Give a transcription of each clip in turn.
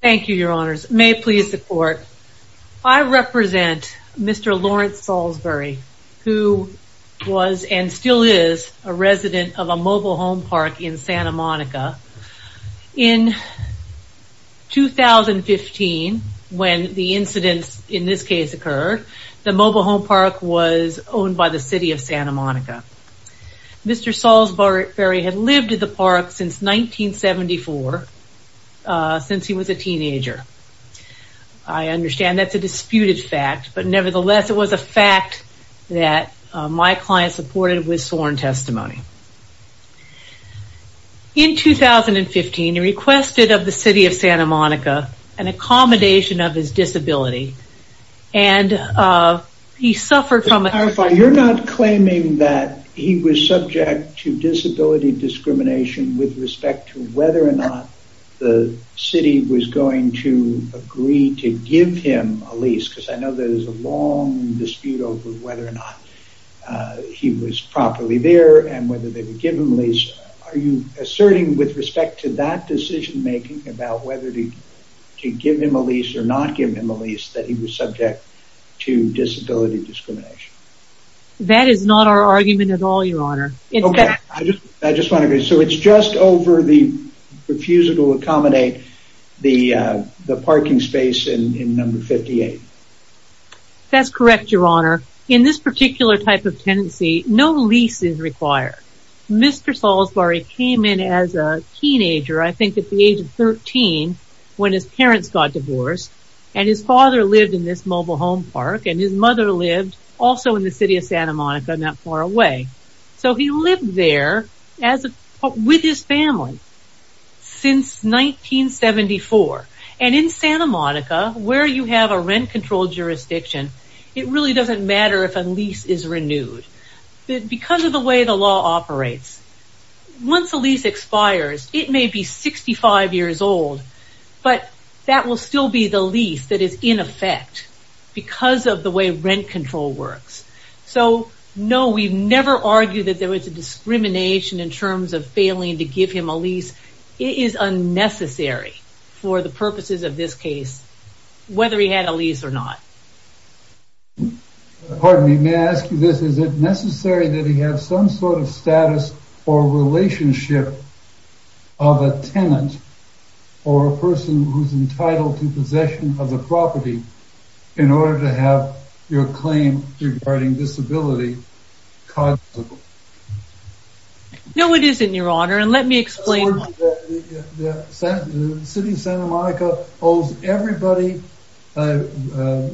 Thank you, your honors. May it please the court. I represent Mr. Lawrence Salisbury, who was and still is a resident of a mobile home park in Santa Monica. In 2015, when the incidents in this case occurred, the mobile home park was owned by the City of Santa Monica. Mr. Salisbury had lived at the mobile home park since 1974, since he was a teenager. I understand that's a disputed fact, but nevertheless it was a fact that my client supported with sworn testimony. In 2015, he requested of the City of Santa Monica an accommodation of his disability, and he suffered from- with respect to whether or not the city was going to agree to give him a lease, because I know there is a long dispute over whether or not he was properly there, and whether they would give him a lease. Are you asserting with respect to that decision making about whether to give him a lease or not give him a lease, that he was subject to disability discrimination? That is not our argument at all, your honor. Okay, I just want to agree. So it's just over the refusal to accommodate the parking space in number 58? That's correct, your honor. In this particular type of tenancy, no lease is required. Mr. Salisbury came in as a teenager, I think at the age of 13, when his parents got divorced, and his father lived in this mobile home park, and his mother lived also in the City of Santa Monica, not far away. So he lived there with his family since 1974. And in Santa Monica, where you have a rent-controlled jurisdiction, it really doesn't matter if a lease is renewed. Because of the way the law operates, once a lease expires, it may be 65 years old, but that will still be the lease that is in effect, because of the way rent control works. So, no, we've never argued that there was a discrimination in terms of failing to give him a lease. It is unnecessary for the purposes of this case, whether he had a lease or not. Pardon me, may I ask you this? Is it necessary that he have some sort of status or relationship of a tenant or a title to possession of the property, in order to have your claim regarding disability cognizable? No, it isn't, Your Honor, and let me explain... The City of Santa Monica owes everybody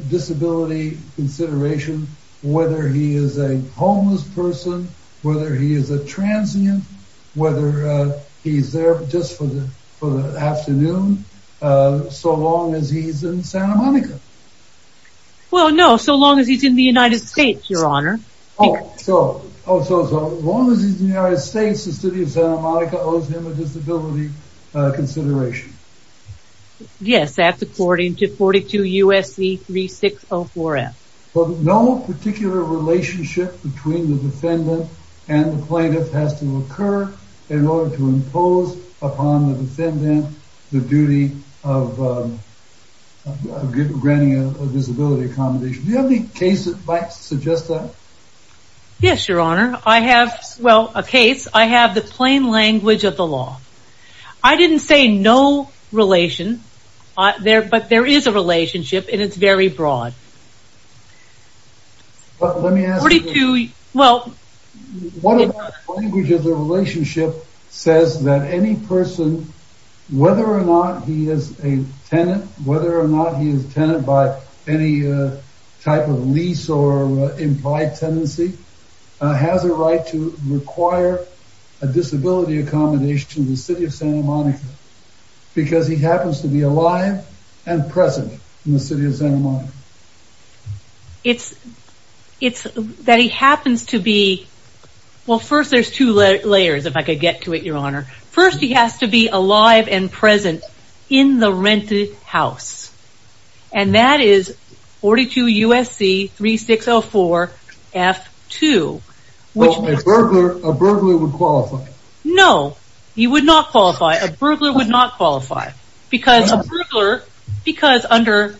disability consideration, whether he is a homeless person, whether he is a homeless person, as long as he is in Santa Monica. Well, no, so long as he is in the United States, Your Honor. Oh, so as long as he is in the United States, the City of Santa Monica owes him a disability consideration. Yes, that's according to 42 U.S.C. 3604F. No particular relationship between the defendant and the plaintiff has to occur in order to impose upon the defendant the duty of granting a disability accommodation. Do you have any case that might suggest that? Yes, Your Honor, I have, well, a case, I have the plain language of the law. I didn't say no relation, but there is a relationship, and it's very broad. Well, let me ask you... 42, well... One of the languages of the relationship says that any person, whether or not he is a tenant, whether or not he is a tenant by any type of lease or implied tenancy, has a right to require a disability accommodation in the City of Santa Monica, because he happens to be alive and present in the City of Santa Monica. It's that he happens to be, well, first there's two layers, if I could get to it, Your Honor. First, he has to be alive and present in the rented house. And that is 42 U.S.C. 3604F.2. Well, a burglar would qualify. No, he would not qualify. A burglar would not qualify. Because a burglar, because under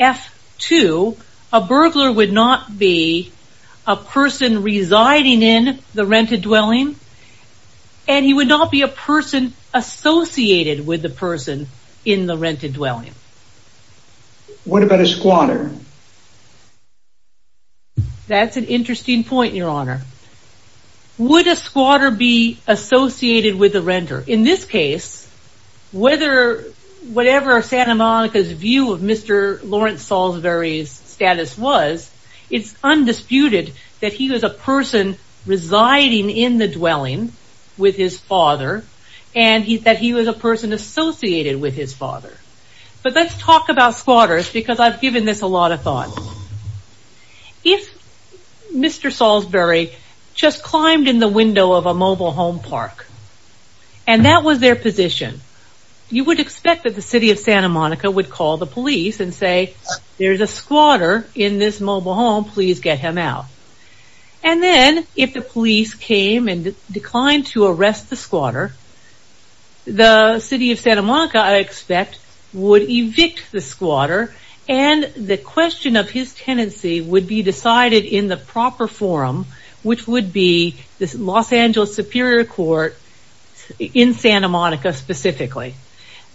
F.2, a burglar would not be a person residing in the rented dwelling, and he would not be a person associated with the person in the rented dwelling. What about a squatter? That's an interesting point, Your Honor. Would a squatter be associated with a renter? In this case, whatever Santa Monica's view of Mr. Lawrence Salisbury's status was, it's undisputed that he was a person residing in the dwelling with his father, and that he was a person associated with his father. But let's talk about squatters, because I've given this a lot of thought. If Mr. Salisbury just climbed in the window of a mobile home park, and that was their position, you would expect that the City of Santa Monica would call the police and say, there's a squatter in this mobile home, please get him out. And then, if the police came and declined to arrest the squatter, the City of Santa Monica, I expect, would evict the squatter, and the question of his tenancy would be decided in the proper forum, which would be the Los Angeles Superior Court in Santa Monica specifically.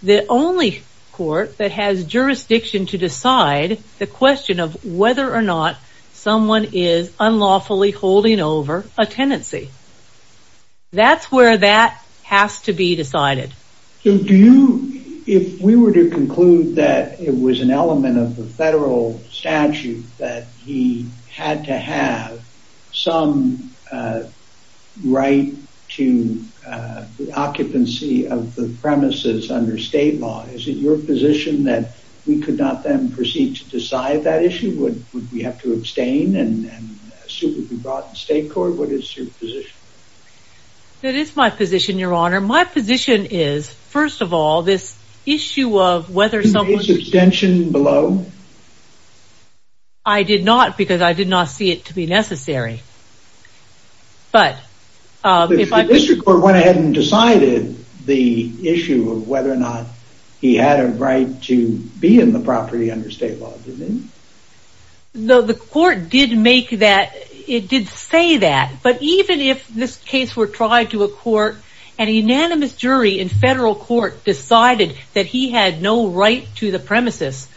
The only court that has jurisdiction to decide the question of whether or not someone is unlawfully holding over a tenancy. That's where that has to be decided. If we were to conclude that it was an element of the federal statute that he had to have some right to the occupancy of the premises under state law, is it your position that we could not then proceed to decide that issue? Would we have to abstain, and a suit would be brought to the state court? What is your position? That is my position, your honor. My position is, first of all, this issue of whether someone... Did you make an abstention below? I did not, because I did not see it to be necessary. But, if I... The district court went ahead and decided the issue of whether or not he had a right to be in the property under state law, didn't it? The court did say that, but even if this case were tried to a court, and a unanimous jury in federal court decided that he had no right to the premises,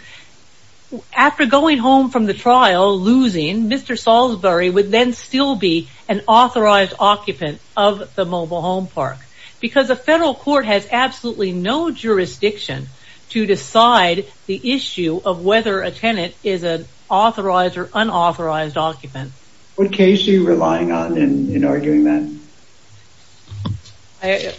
after going home from the trial, losing, Mr. Salisbury would then still be an authorized occupant of the mobile home park. Because a federal court has absolutely no jurisdiction to decide the issue of whether a tenant is an authorized or unauthorized occupant. What case are you relying on in arguing that?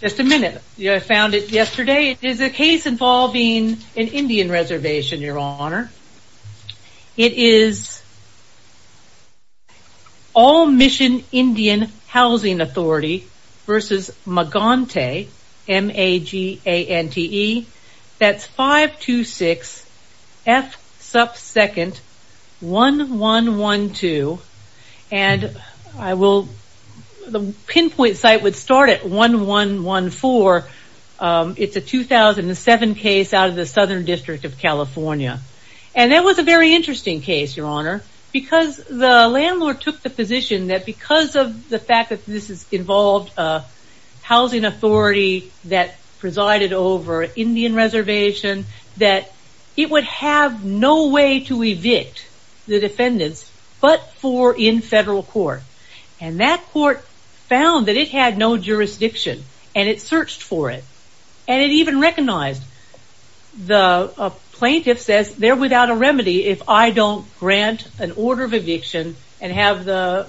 Just a minute. I found it yesterday. It is a case involving an Indian reservation, your honor. It is All Mission Indian Housing Authority versus Magante, M-A-G-A-N-T-E. That is 526-F-1-1-1-2. The pinpoint site would start at 1-1-1-4. It is a 2007 case out of the Southern District of California. That was a very interesting case, your honor. Because the landlord took the position that because of the fact that this involved a housing authority that presided over an Indian reservation, that it would have no way to evict the defendants but for in federal court. That court found that it had no jurisdiction and it searched for it. It even recognized the plaintiff says they are without a remedy if I don't grant an order of eviction and have the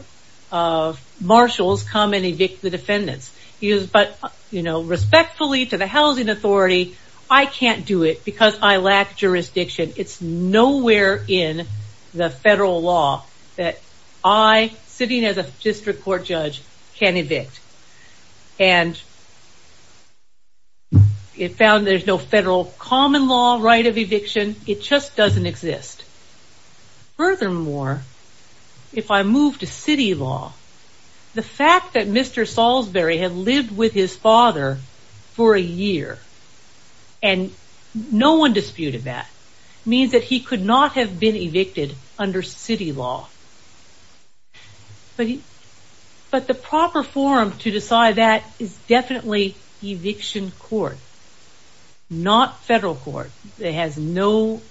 marshals come and evict the defendants. Respectfully to the housing authority, I can't do it because I lack jurisdiction. It is nowhere in the federal law that I, sitting as a district court judge, can evict. And it found there is no federal common law right of eviction. It just doesn't exist. Furthermore, if I move to city law, the fact that Mr. Salisbury had lived with his father for a year and no one disputed that means that he could not have been evicted under city law. But the proper forum to decide that is definitely eviction court. Not federal court. It has no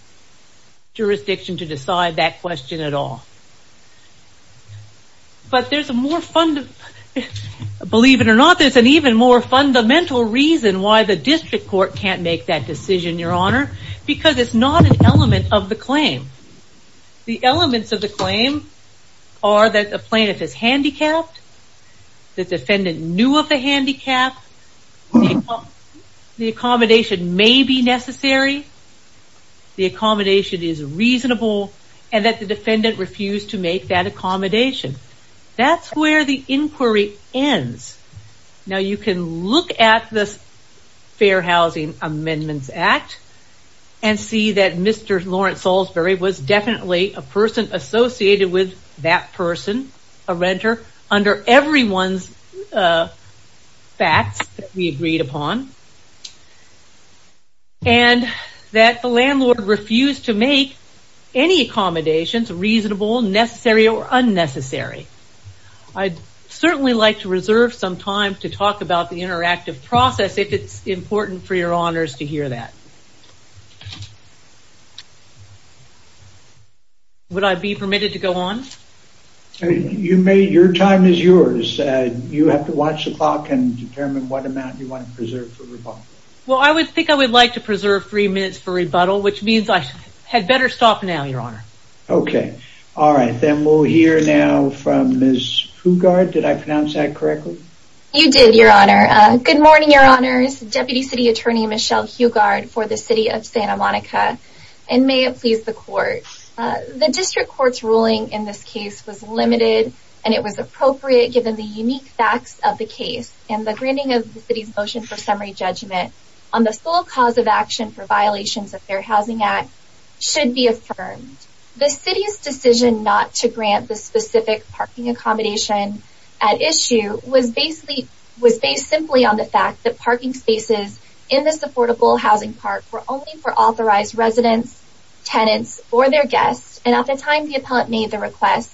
jurisdiction to decide that question at all. But there is a more fundamental reason why the district court can't make that decision, your honor. Because it is not an element of the claim. The elements of the claim are that the plaintiff is handicapped, the defendant knew of the handicap, the accommodation may be necessary, the accommodation is reasonable, and that the defendant refused to make that accommodation. That's where the inquiry ends. Now you can look at this Fair Housing Amendments Act and see that Mr. Lawrence Salisbury was definitely a person associated with that person, a renter, under everyone's facts that we agreed upon. And that the landlord refused to make any accommodations reasonable, necessary, or unnecessary. I'd certainly like to reserve some time to talk about the interactive process if it's important for your honors to hear that. Would I be permitted to go on? Your time is yours. You have to watch the clock and determine what amount you want to preserve for rebuttal. Well, I would think I would like to preserve three minutes for rebuttal, which means I had better stop now, your honor. Okay, all right. Then we'll hear now from Ms. Hugard. Did I pronounce that correctly? You did, your honor. Good morning, your honors. Deputy City Attorney Michelle Hugard for the City of Santa Monica. And may it please the court, the district court's ruling in this case was limited and it was appropriate given the unique facts of the case. And the granting of the City's motion for summary judgment on the sole cause of action for violations of their Housing Act should be affirmed. The City's decision not to grant the specific parking accommodation at issue was based simply on the fact that parking spaces in this affordable housing park were only for authorized residents, tenants, or their guests. And at the time the appellant made the request,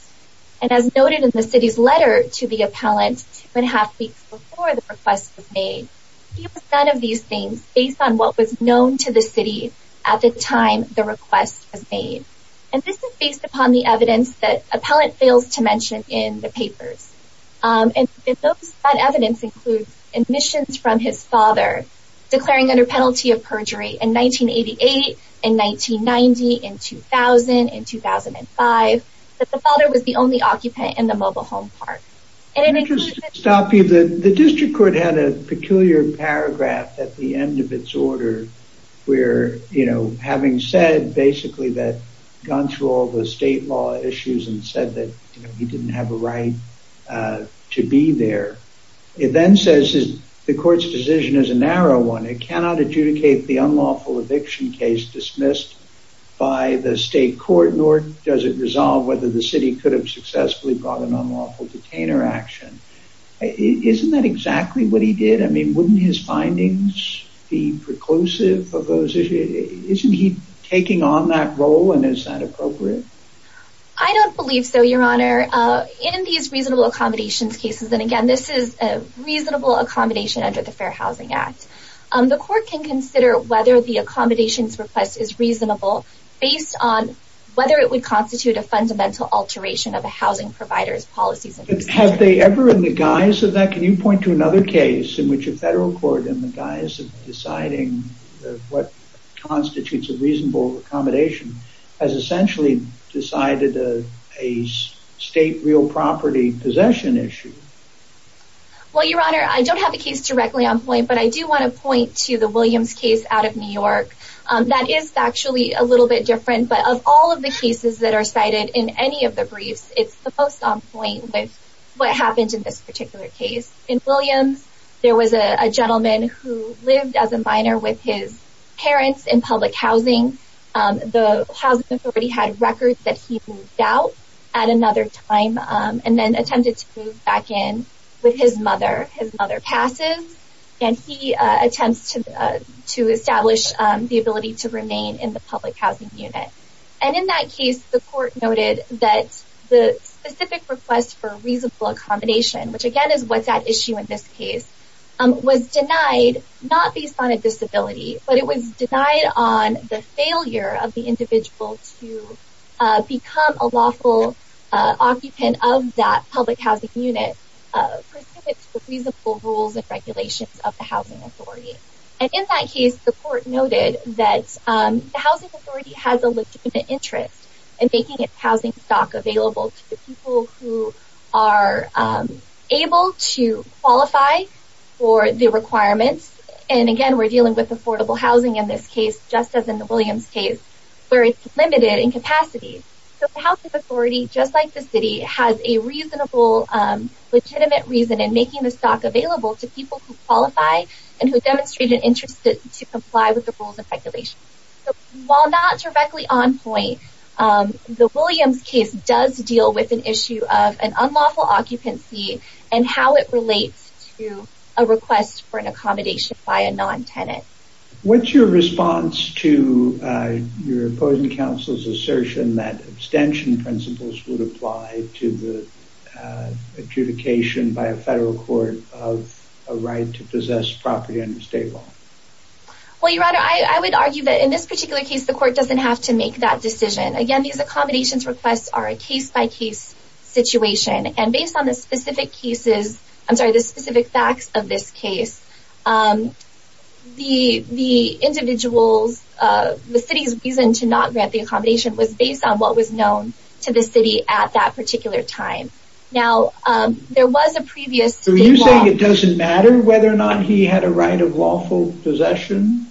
and as noted in the City's letter to the appellant two and a half weeks before the request was made, he was none of these things based on what was known to the City at the time the request was made. And this is based upon the evidence that the appellant fails to mention in the papers. And that evidence includes admissions from his father, declaring under penalty of perjury in 1988, in 1990, in 2000, in 2005, that the father was the only occupant in the mobile home park. Let me just stop you. The district court had a peculiar paragraph at the end of its order where, you know, having said basically that, gone through all the state law issues and said that he didn't have a right to be there, it then says the court's decision is a narrow one. It cannot adjudicate the unlawful eviction case dismissed by the state court, nor does it resolve whether the City could have successfully brought an unlawful detainer action. Isn't that exactly what he did? I mean, wouldn't his findings be preclusive of those issues? Isn't he taking on that role, and is that appropriate? I don't believe so, Your Honor. In these reasonable accommodations cases, and again, this is a reasonable accommodation under the Fair Housing Act, the court can consider whether the accommodations request is reasonable based on whether it would constitute a fundamental alteration of a housing provider's policies. Have they ever, in the guise of that, can you point to another case in which a federal court, in the guise of deciding what constitutes a reasonable accommodation, has essentially decided a state real property possession issue? Well, Your Honor, I don't have a case directly on point, but I do want to point to the Williams case out of New York. That is actually a little bit different, but of all of the cases that are cited in any of the briefs, it's the most on point with what happened in this particular case. In Williams, there was a gentleman who lived as a minor with his parents in public housing. The housing authority had records that he moved out at another time and then attempted to move back in with his mother. His mother passes, and he attempts to establish the ability to remain in the public housing unit. In that case, the court noted that the specific request for reasonable accommodation, which again is what's at issue in this case, was denied not based on a disability, but it was denied on the failure of the individual to become a lawful occupant of that public housing unit, In that case, the court noted that the housing authority has a legitimate interest in making its housing stock available to the people who are able to qualify for the requirements. And again, we're dealing with affordable housing in this case, just as in the Williams case, where it's limited in capacity. So the housing authority, just like the city, has a reasonable, legitimate reason in making the stock available to people who qualify and who demonstrate an interest to comply with the rules and regulations. While not directly on point, the Williams case does deal with an issue of an unlawful occupancy and how it relates to a request for an accommodation by a non-tenant. What's your response to your opposing counsel's assertion that abstention principles would apply to the adjudication by a federal court of a right to possess property under state law? Well, Your Honor, I would argue that in this particular case, the court doesn't have to make that decision. Again, these accommodations requests are a case-by-case situation, and based on the specific facts of this case, the city's reason to not grant the accommodation was based on what was known to the city at that particular time. So you're saying it doesn't matter whether or not he had a right of lawful possession?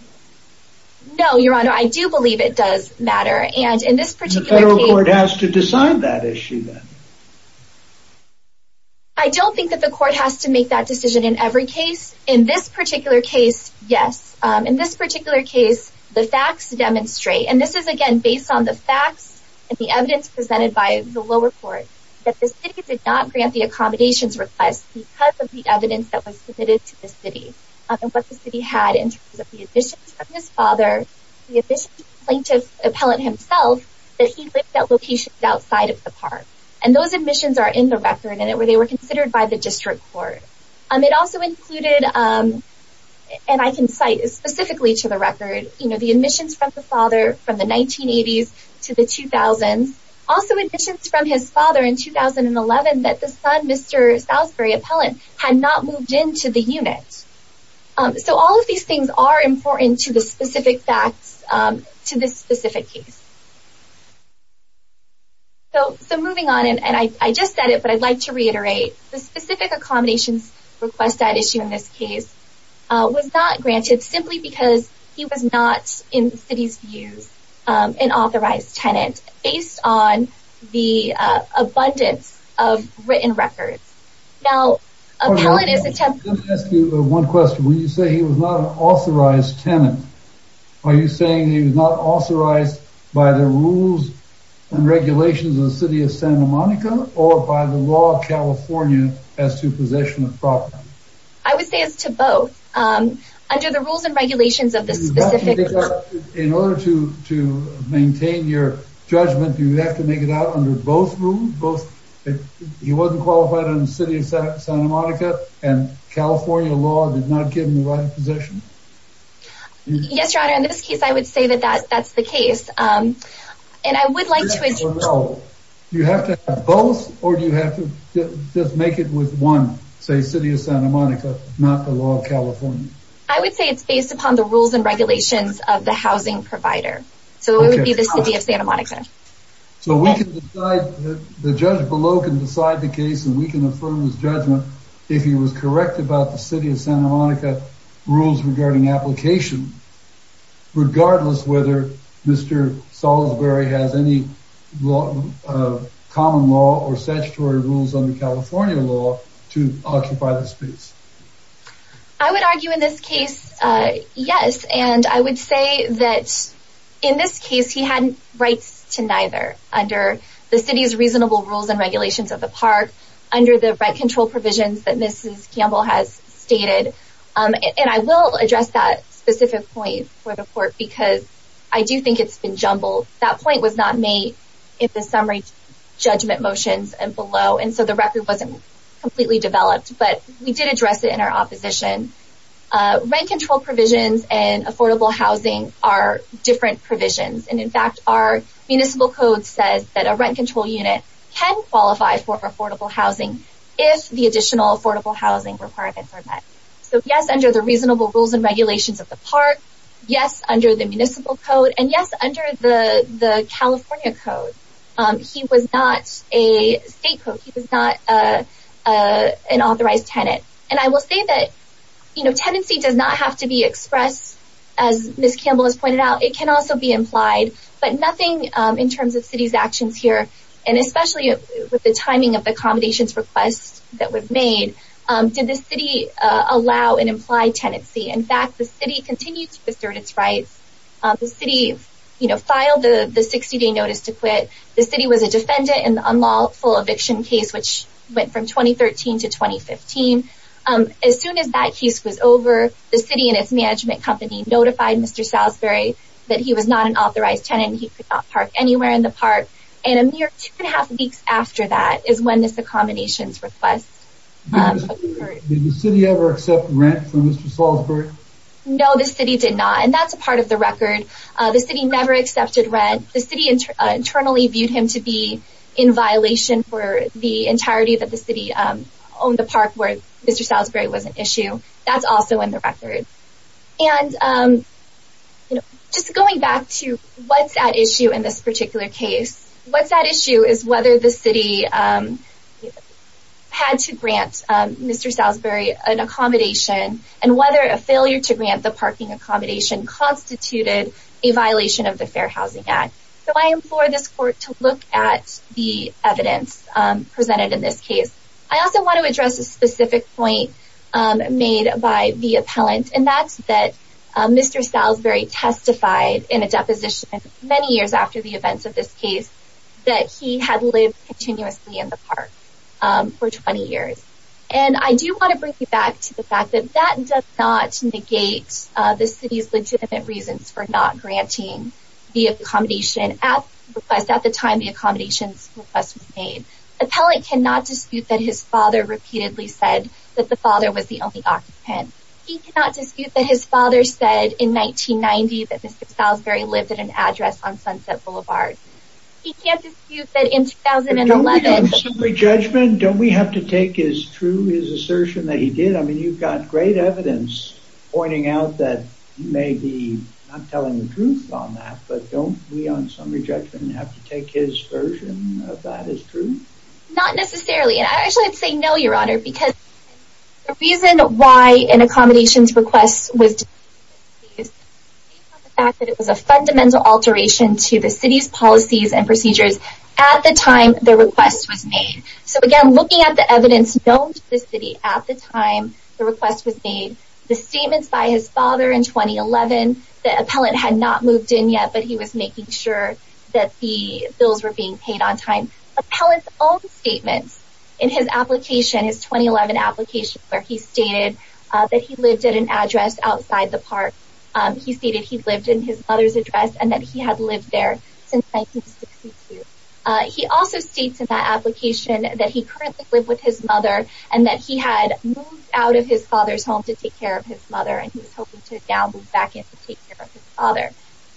No, Your Honor, I do believe it does matter. And the federal court has to decide that issue then? I don't think that the court has to make that decision in every case. In this particular case, yes. In this particular case, the facts demonstrate, and this is again based on the facts and the evidence presented by the lower court, that the city did not grant the accommodations request because of the evidence that was submitted to the city and what the city had in terms of the admissions from his father, the additional plaintiff appellate himself, that he lived at locations outside of the park. And those admissions are in the record, and they were considered by the district court. It also included, and I can cite specifically to the record, the admissions from the father from the 1980s to the 2000s, also admissions from his father in 2011 that the son, Mr. Salisbury Appellant, had not moved into the unit. So all of these things are important to the specific facts to this specific case. So moving on, and I just said it, but I'd like to reiterate, the specific accommodations request at issue in this case was not granted simply because he was not, in the city's views, an authorized tenant based on the abundance of written records. Let me ask you one question. When you say he was not an authorized tenant, are you saying he was not authorized by the rules and regulations of the city of Santa Monica or by the law of California as to possession of property? I would say it's to both. Under the rules and regulations of the specific… In order to maintain your judgment, do you have to make it out under both rules? He wasn't qualified in the city of Santa Monica, and California law did not give him the right of possession? Yes, Your Honor. In this case, I would say that that's the case. And I would like to… Do you have to have both, or do you have to just make it with one, say, city of Santa Monica, not the law of California? I would say it's based upon the rules and regulations of the housing provider. So it would be the city of Santa Monica. So we can decide, the judge below can decide the case, and we can affirm his judgment if he was correct about the city of Santa Monica rules regarding application, regardless whether Mr. Salisbury has any common law or statutory rules under California law to occupy the space. I would argue in this case, yes. And I would say that in this case, he had rights to neither under the city's reasonable rules and regulations of the park, under the right control provisions that Mrs. Campbell has stated. And I will address that specific point for the court, because I do think it's been jumbled. That point was not made in the summary judgment motions and below, and so the record wasn't completely developed, but we did address it in our opposition. Rent control provisions and affordable housing are different provisions. And in fact, our municipal code says that a rent control unit can qualify for affordable housing if the additional affordable housing requirements are met. So yes, under the reasonable rules and regulations of the park. Yes, under the municipal code. And yes, under the California code. He was not a state code. He was not an authorized tenant. And I will say that, you know, tenancy does not have to be expressed, as Mrs. Campbell has pointed out. It can also be implied. But nothing in terms of city's actions here, and especially with the timing of the accommodations request that we've made, did the city allow an implied tenancy. In fact, the city continued to assert its rights. The city, you know, filed the 60-day notice to quit. The city was a defendant in the unlawful eviction case, which went from 2013 to 2015. As soon as that case was over, the city and its management company notified Mr. Salisbury that he was not an authorized tenant and he could not park anywhere in the park. And a mere two and a half weeks after that is when this accommodations request occurred. Did the city ever accept rent from Mr. Salisbury? No, the city did not. And that's a part of the record. The city never accepted rent. The city internally viewed him to be in violation for the entirety of the city owned the park where Mr. Salisbury was an issue. That's also in the record. And just going back to what's at issue in this particular case, what's at issue is whether the city had to grant Mr. Salisbury an accommodation and whether a failure to grant the parking accommodation constituted a violation of the Fair Housing Act. So I implore this court to look at the evidence presented in this case. I also want to address a specific point made by the appellant, and that's that Mr. Salisbury testified in a deposition many years after the events of this case that he had lived continuously in the park for 20 years. And I do want to bring you back to the fact that that does not negate the city's legitimate reasons for not granting the accommodation at the time the accommodations request was made. Appellant cannot dispute that his father repeatedly said that the father was the only occupant. He cannot dispute that his father said in 1990 that Mr. Salisbury lived at an address on Sunset Boulevard. He can't dispute that in 2011... But don't we on summary judgment, don't we have to take as true his assertion that he did? I mean, you've got great evidence pointing out that he may be not telling the truth on that, but don't we on summary judgment have to take his version of that as true? Not necessarily, and I actually would say no, Your Honor, because the reason why an accommodations request was disputed is based on the fact that it was a fundamental alteration to the city's policies and procedures at the time the request was made. So again, looking at the evidence known to the city at the time the request was made, the statements by his father in 2011, the appellant had not moved in yet, but he was making sure that the bills were being paid on time. Appellant's own statements in his application, his 2011 application, where he stated that he lived at an address outside the park, he stated he lived in his mother's address and that he had lived there since 1962. He also states in that application that he currently lived with his mother and that he had moved out of his father's home to take care of his mother and he was hoping to now move back in to take care of his father.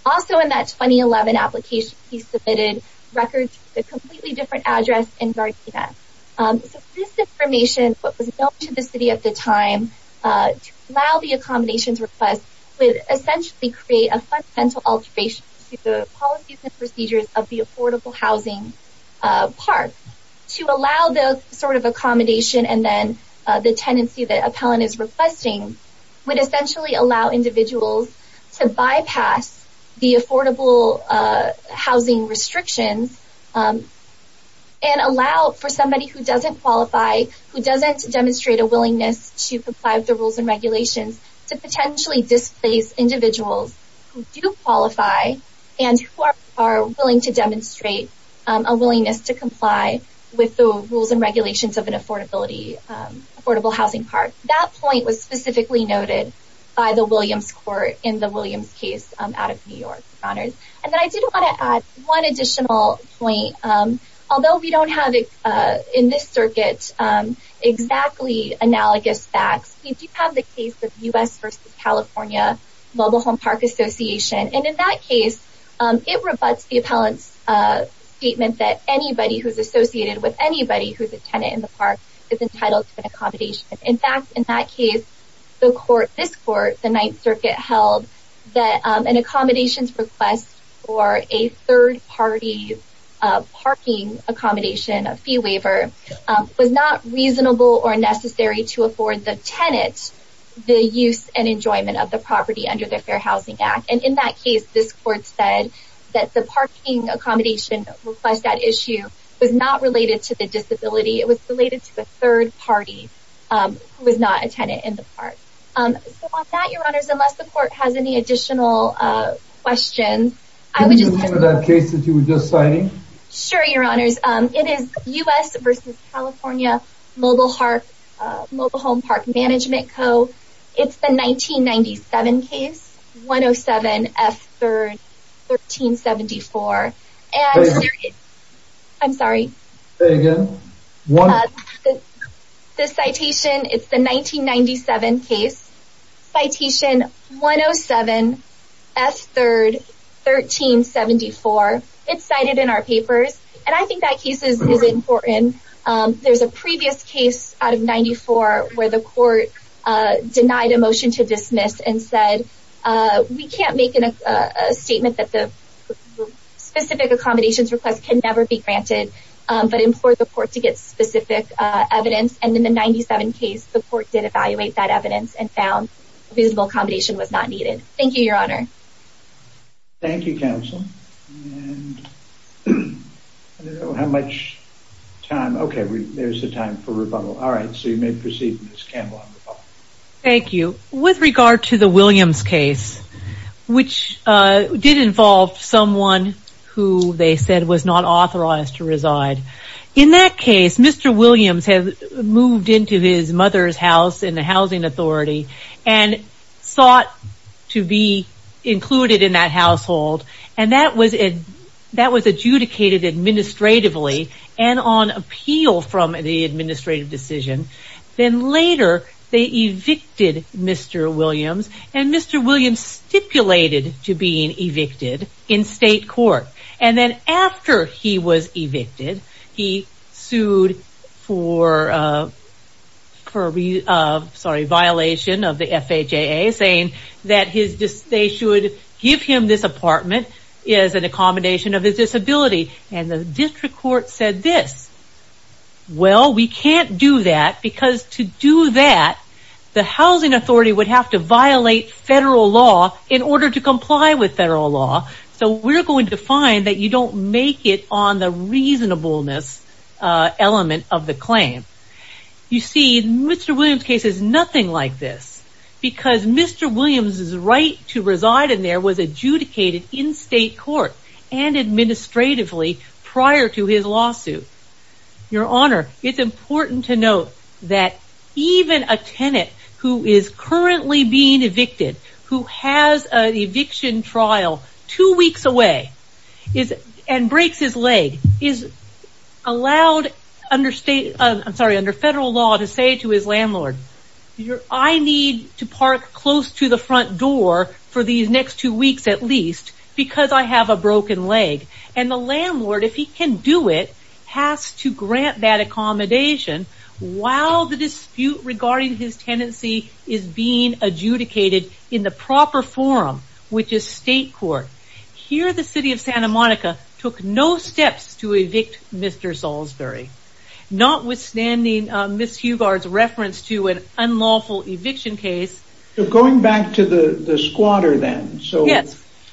Also in that 2011 application, he submitted records with a completely different address in Gardena. So this information, what was known to the city at the time to allow the accommodations request would essentially create a fundamental alteration to the policies and procedures of the affordable housing park. To allow the sort of accommodation and then the tenancy that appellant is requesting would essentially allow individuals to bypass the affordable housing restrictions and allow for somebody who doesn't qualify, who doesn't demonstrate a willingness to comply with the rules and regulations, to potentially displace individuals who do qualify and who are willing to demonstrate a willingness to comply. With the rules and regulations of an affordable housing park. That point was specifically noted by the Williams court in the Williams case out of New York. And then I did want to add one additional point. Although we don't have in this circuit exactly analogous facts, we do have the case of U.S. versus California Global Home Park Association. And in that case, it rebuts the appellant's statement that anybody who's associated with anybody who's a tenant in the park is entitled to an accommodation. In fact, in that case, this court, the Ninth Circuit, held that an accommodations request for a third-party parking accommodation, a fee waiver, was not reasonable or necessary to afford the tenant the use and enjoyment of the property under the Fair Housing Act. And in that case, this court said that the parking accommodation request, that issue, was not related to the disability. It was related to a third party who was not a tenant in the park. So on that, your honors, unless the court has any additional questions, I would just... Can you explain that case that you were just citing? Sure, your honors. It is U.S. versus California Global Home Park Management Co. It's the 1997 case, 107F3RD1374. Say it again. I'm sorry. Say it again. The citation, it's the 1997 case, citation 107F3RD1374. It's cited in our papers. And I think that case is important. There's a previous case out of 94 where the court denied a motion to dismiss and said, we can't make a statement that the specific accommodations request can never be granted, but implored the court to get specific evidence. And in the 97 case, the court did evaluate that evidence and found reasonable accommodation was not needed. Thank you, your honor. Thank you, counsel. I don't have much time. Okay, there's a time for rebuttal. All right, so you may proceed, Ms. Campbell. Thank you. With regard to the Williams case, which did involve someone who they said was not authorized to reside. In that case, Mr. Williams had moved into his mother's house in the housing authority and sought to be included in that household. And that was adjudicated administratively and on appeal from the administrative decision. Then later, they evicted Mr. Williams. And Mr. Williams stipulated to being evicted in state court. And then after he was evicted, he sued for violation of the FHAA saying that they should give him this apartment as an accommodation of his disability. And the district court said this, well, we can't do that because to do that, the housing authority would have to violate federal law in order to comply with federal law. So we're going to find that you don't make it on the reasonableness element of the claim. You see, Mr. Williams' case is nothing like this. Because Mr. Williams' right to reside in there was adjudicated in state court and administratively prior to his lawsuit. Your Honor, it's important to note that even a tenant who is currently being evicted, who has an eviction trial two weeks away and breaks his leg, is allowed under federal law to say to his landlord, I need to park close to the front door for these next two weeks at least because I have a broken leg. And the landlord, if he can do it, has to grant that accommodation while the dispute regarding his tenancy is being adjudicated in the proper forum, which is state court. Here the city of Santa Monica took no steps to evict Mr. Salisbury. Notwithstanding Ms. Hughard's reference to an unlawful eviction case. Going back to the squatter then, so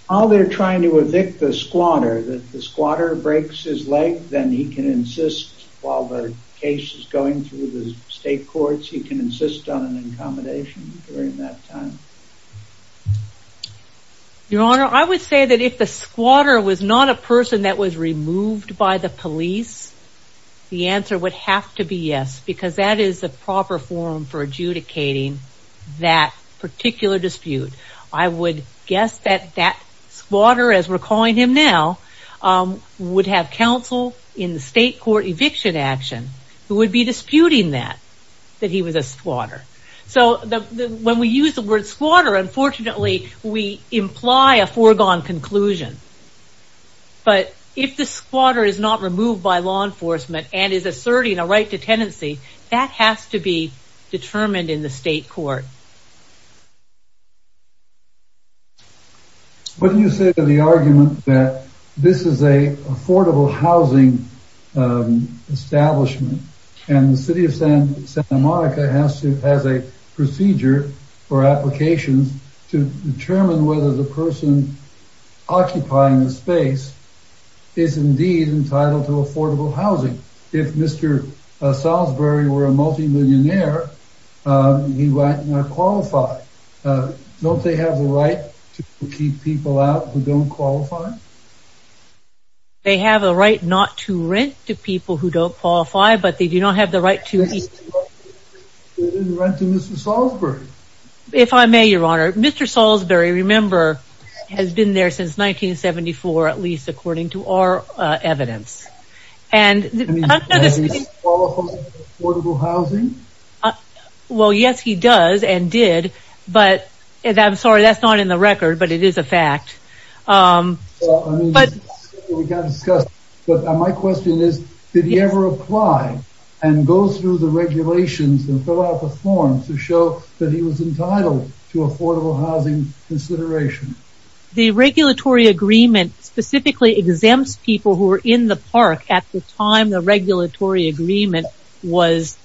while they're trying to evict the squatter, if the squatter breaks his leg, then he can insist while the case is going through the state courts, he can insist on an accommodation during that time? Your Honor, I would say that if the squatter was not a person that was removed by the police, the answer would have to be yes, because that is the proper forum for adjudicating that particular dispute. I would guess that that squatter, as we're calling him now, would have counsel in the state court eviction action who would be disputing that, that he was a squatter. So when we use the word squatter, unfortunately we imply a foregone conclusion. But if the squatter is not removed by law enforcement and is asserting a right to tenancy, that has to be determined in the state court. What do you say to the argument that this is an affordable housing establishment and the city of Santa Monica has a procedure or application to determine whether the person occupying the space is indeed entitled to affordable housing? If Mr. Salisbury were a multimillionaire, he might not qualify. Don't they have the right to keep people out who don't qualify? They have a right not to rent to people who don't qualify, but they do not have the right to eat. They didn't rent to Mr. Salisbury. If I may, Your Honor, Mr. Salisbury, remember, has been there since 1974, at least according to our evidence. Does he qualify for affordable housing? Well, yes, he does and did, but I'm sorry, that's not in the record, but it is a fact. My question is, did he ever apply and go through the regulations and fill out the forms to show that he was entitled to affordable housing consideration? The regulatory agreement specifically exempts people who are in the park at the time the regulatory agreement was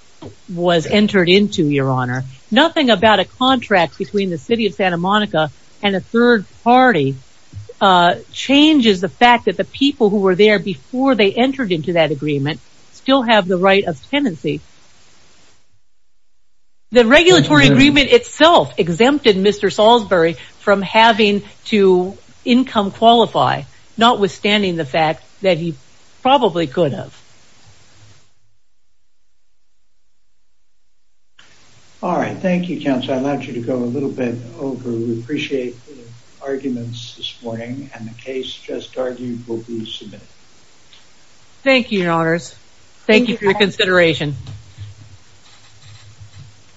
entered into, Your Honor. Nothing about a contract between the city of Santa Monica and a third party changes the fact that the people who were there before they entered into that agreement still have the right of tenancy. The regulatory agreement itself exempted Mr. Salisbury from having to income qualify, notwithstanding the fact that he probably could have. All right, thank you, Counselor. I'd like you to go a little bit over. We appreciate the arguments this morning and the case just argued will be submitted. Thank you, Your Honors. Thank you for your consideration.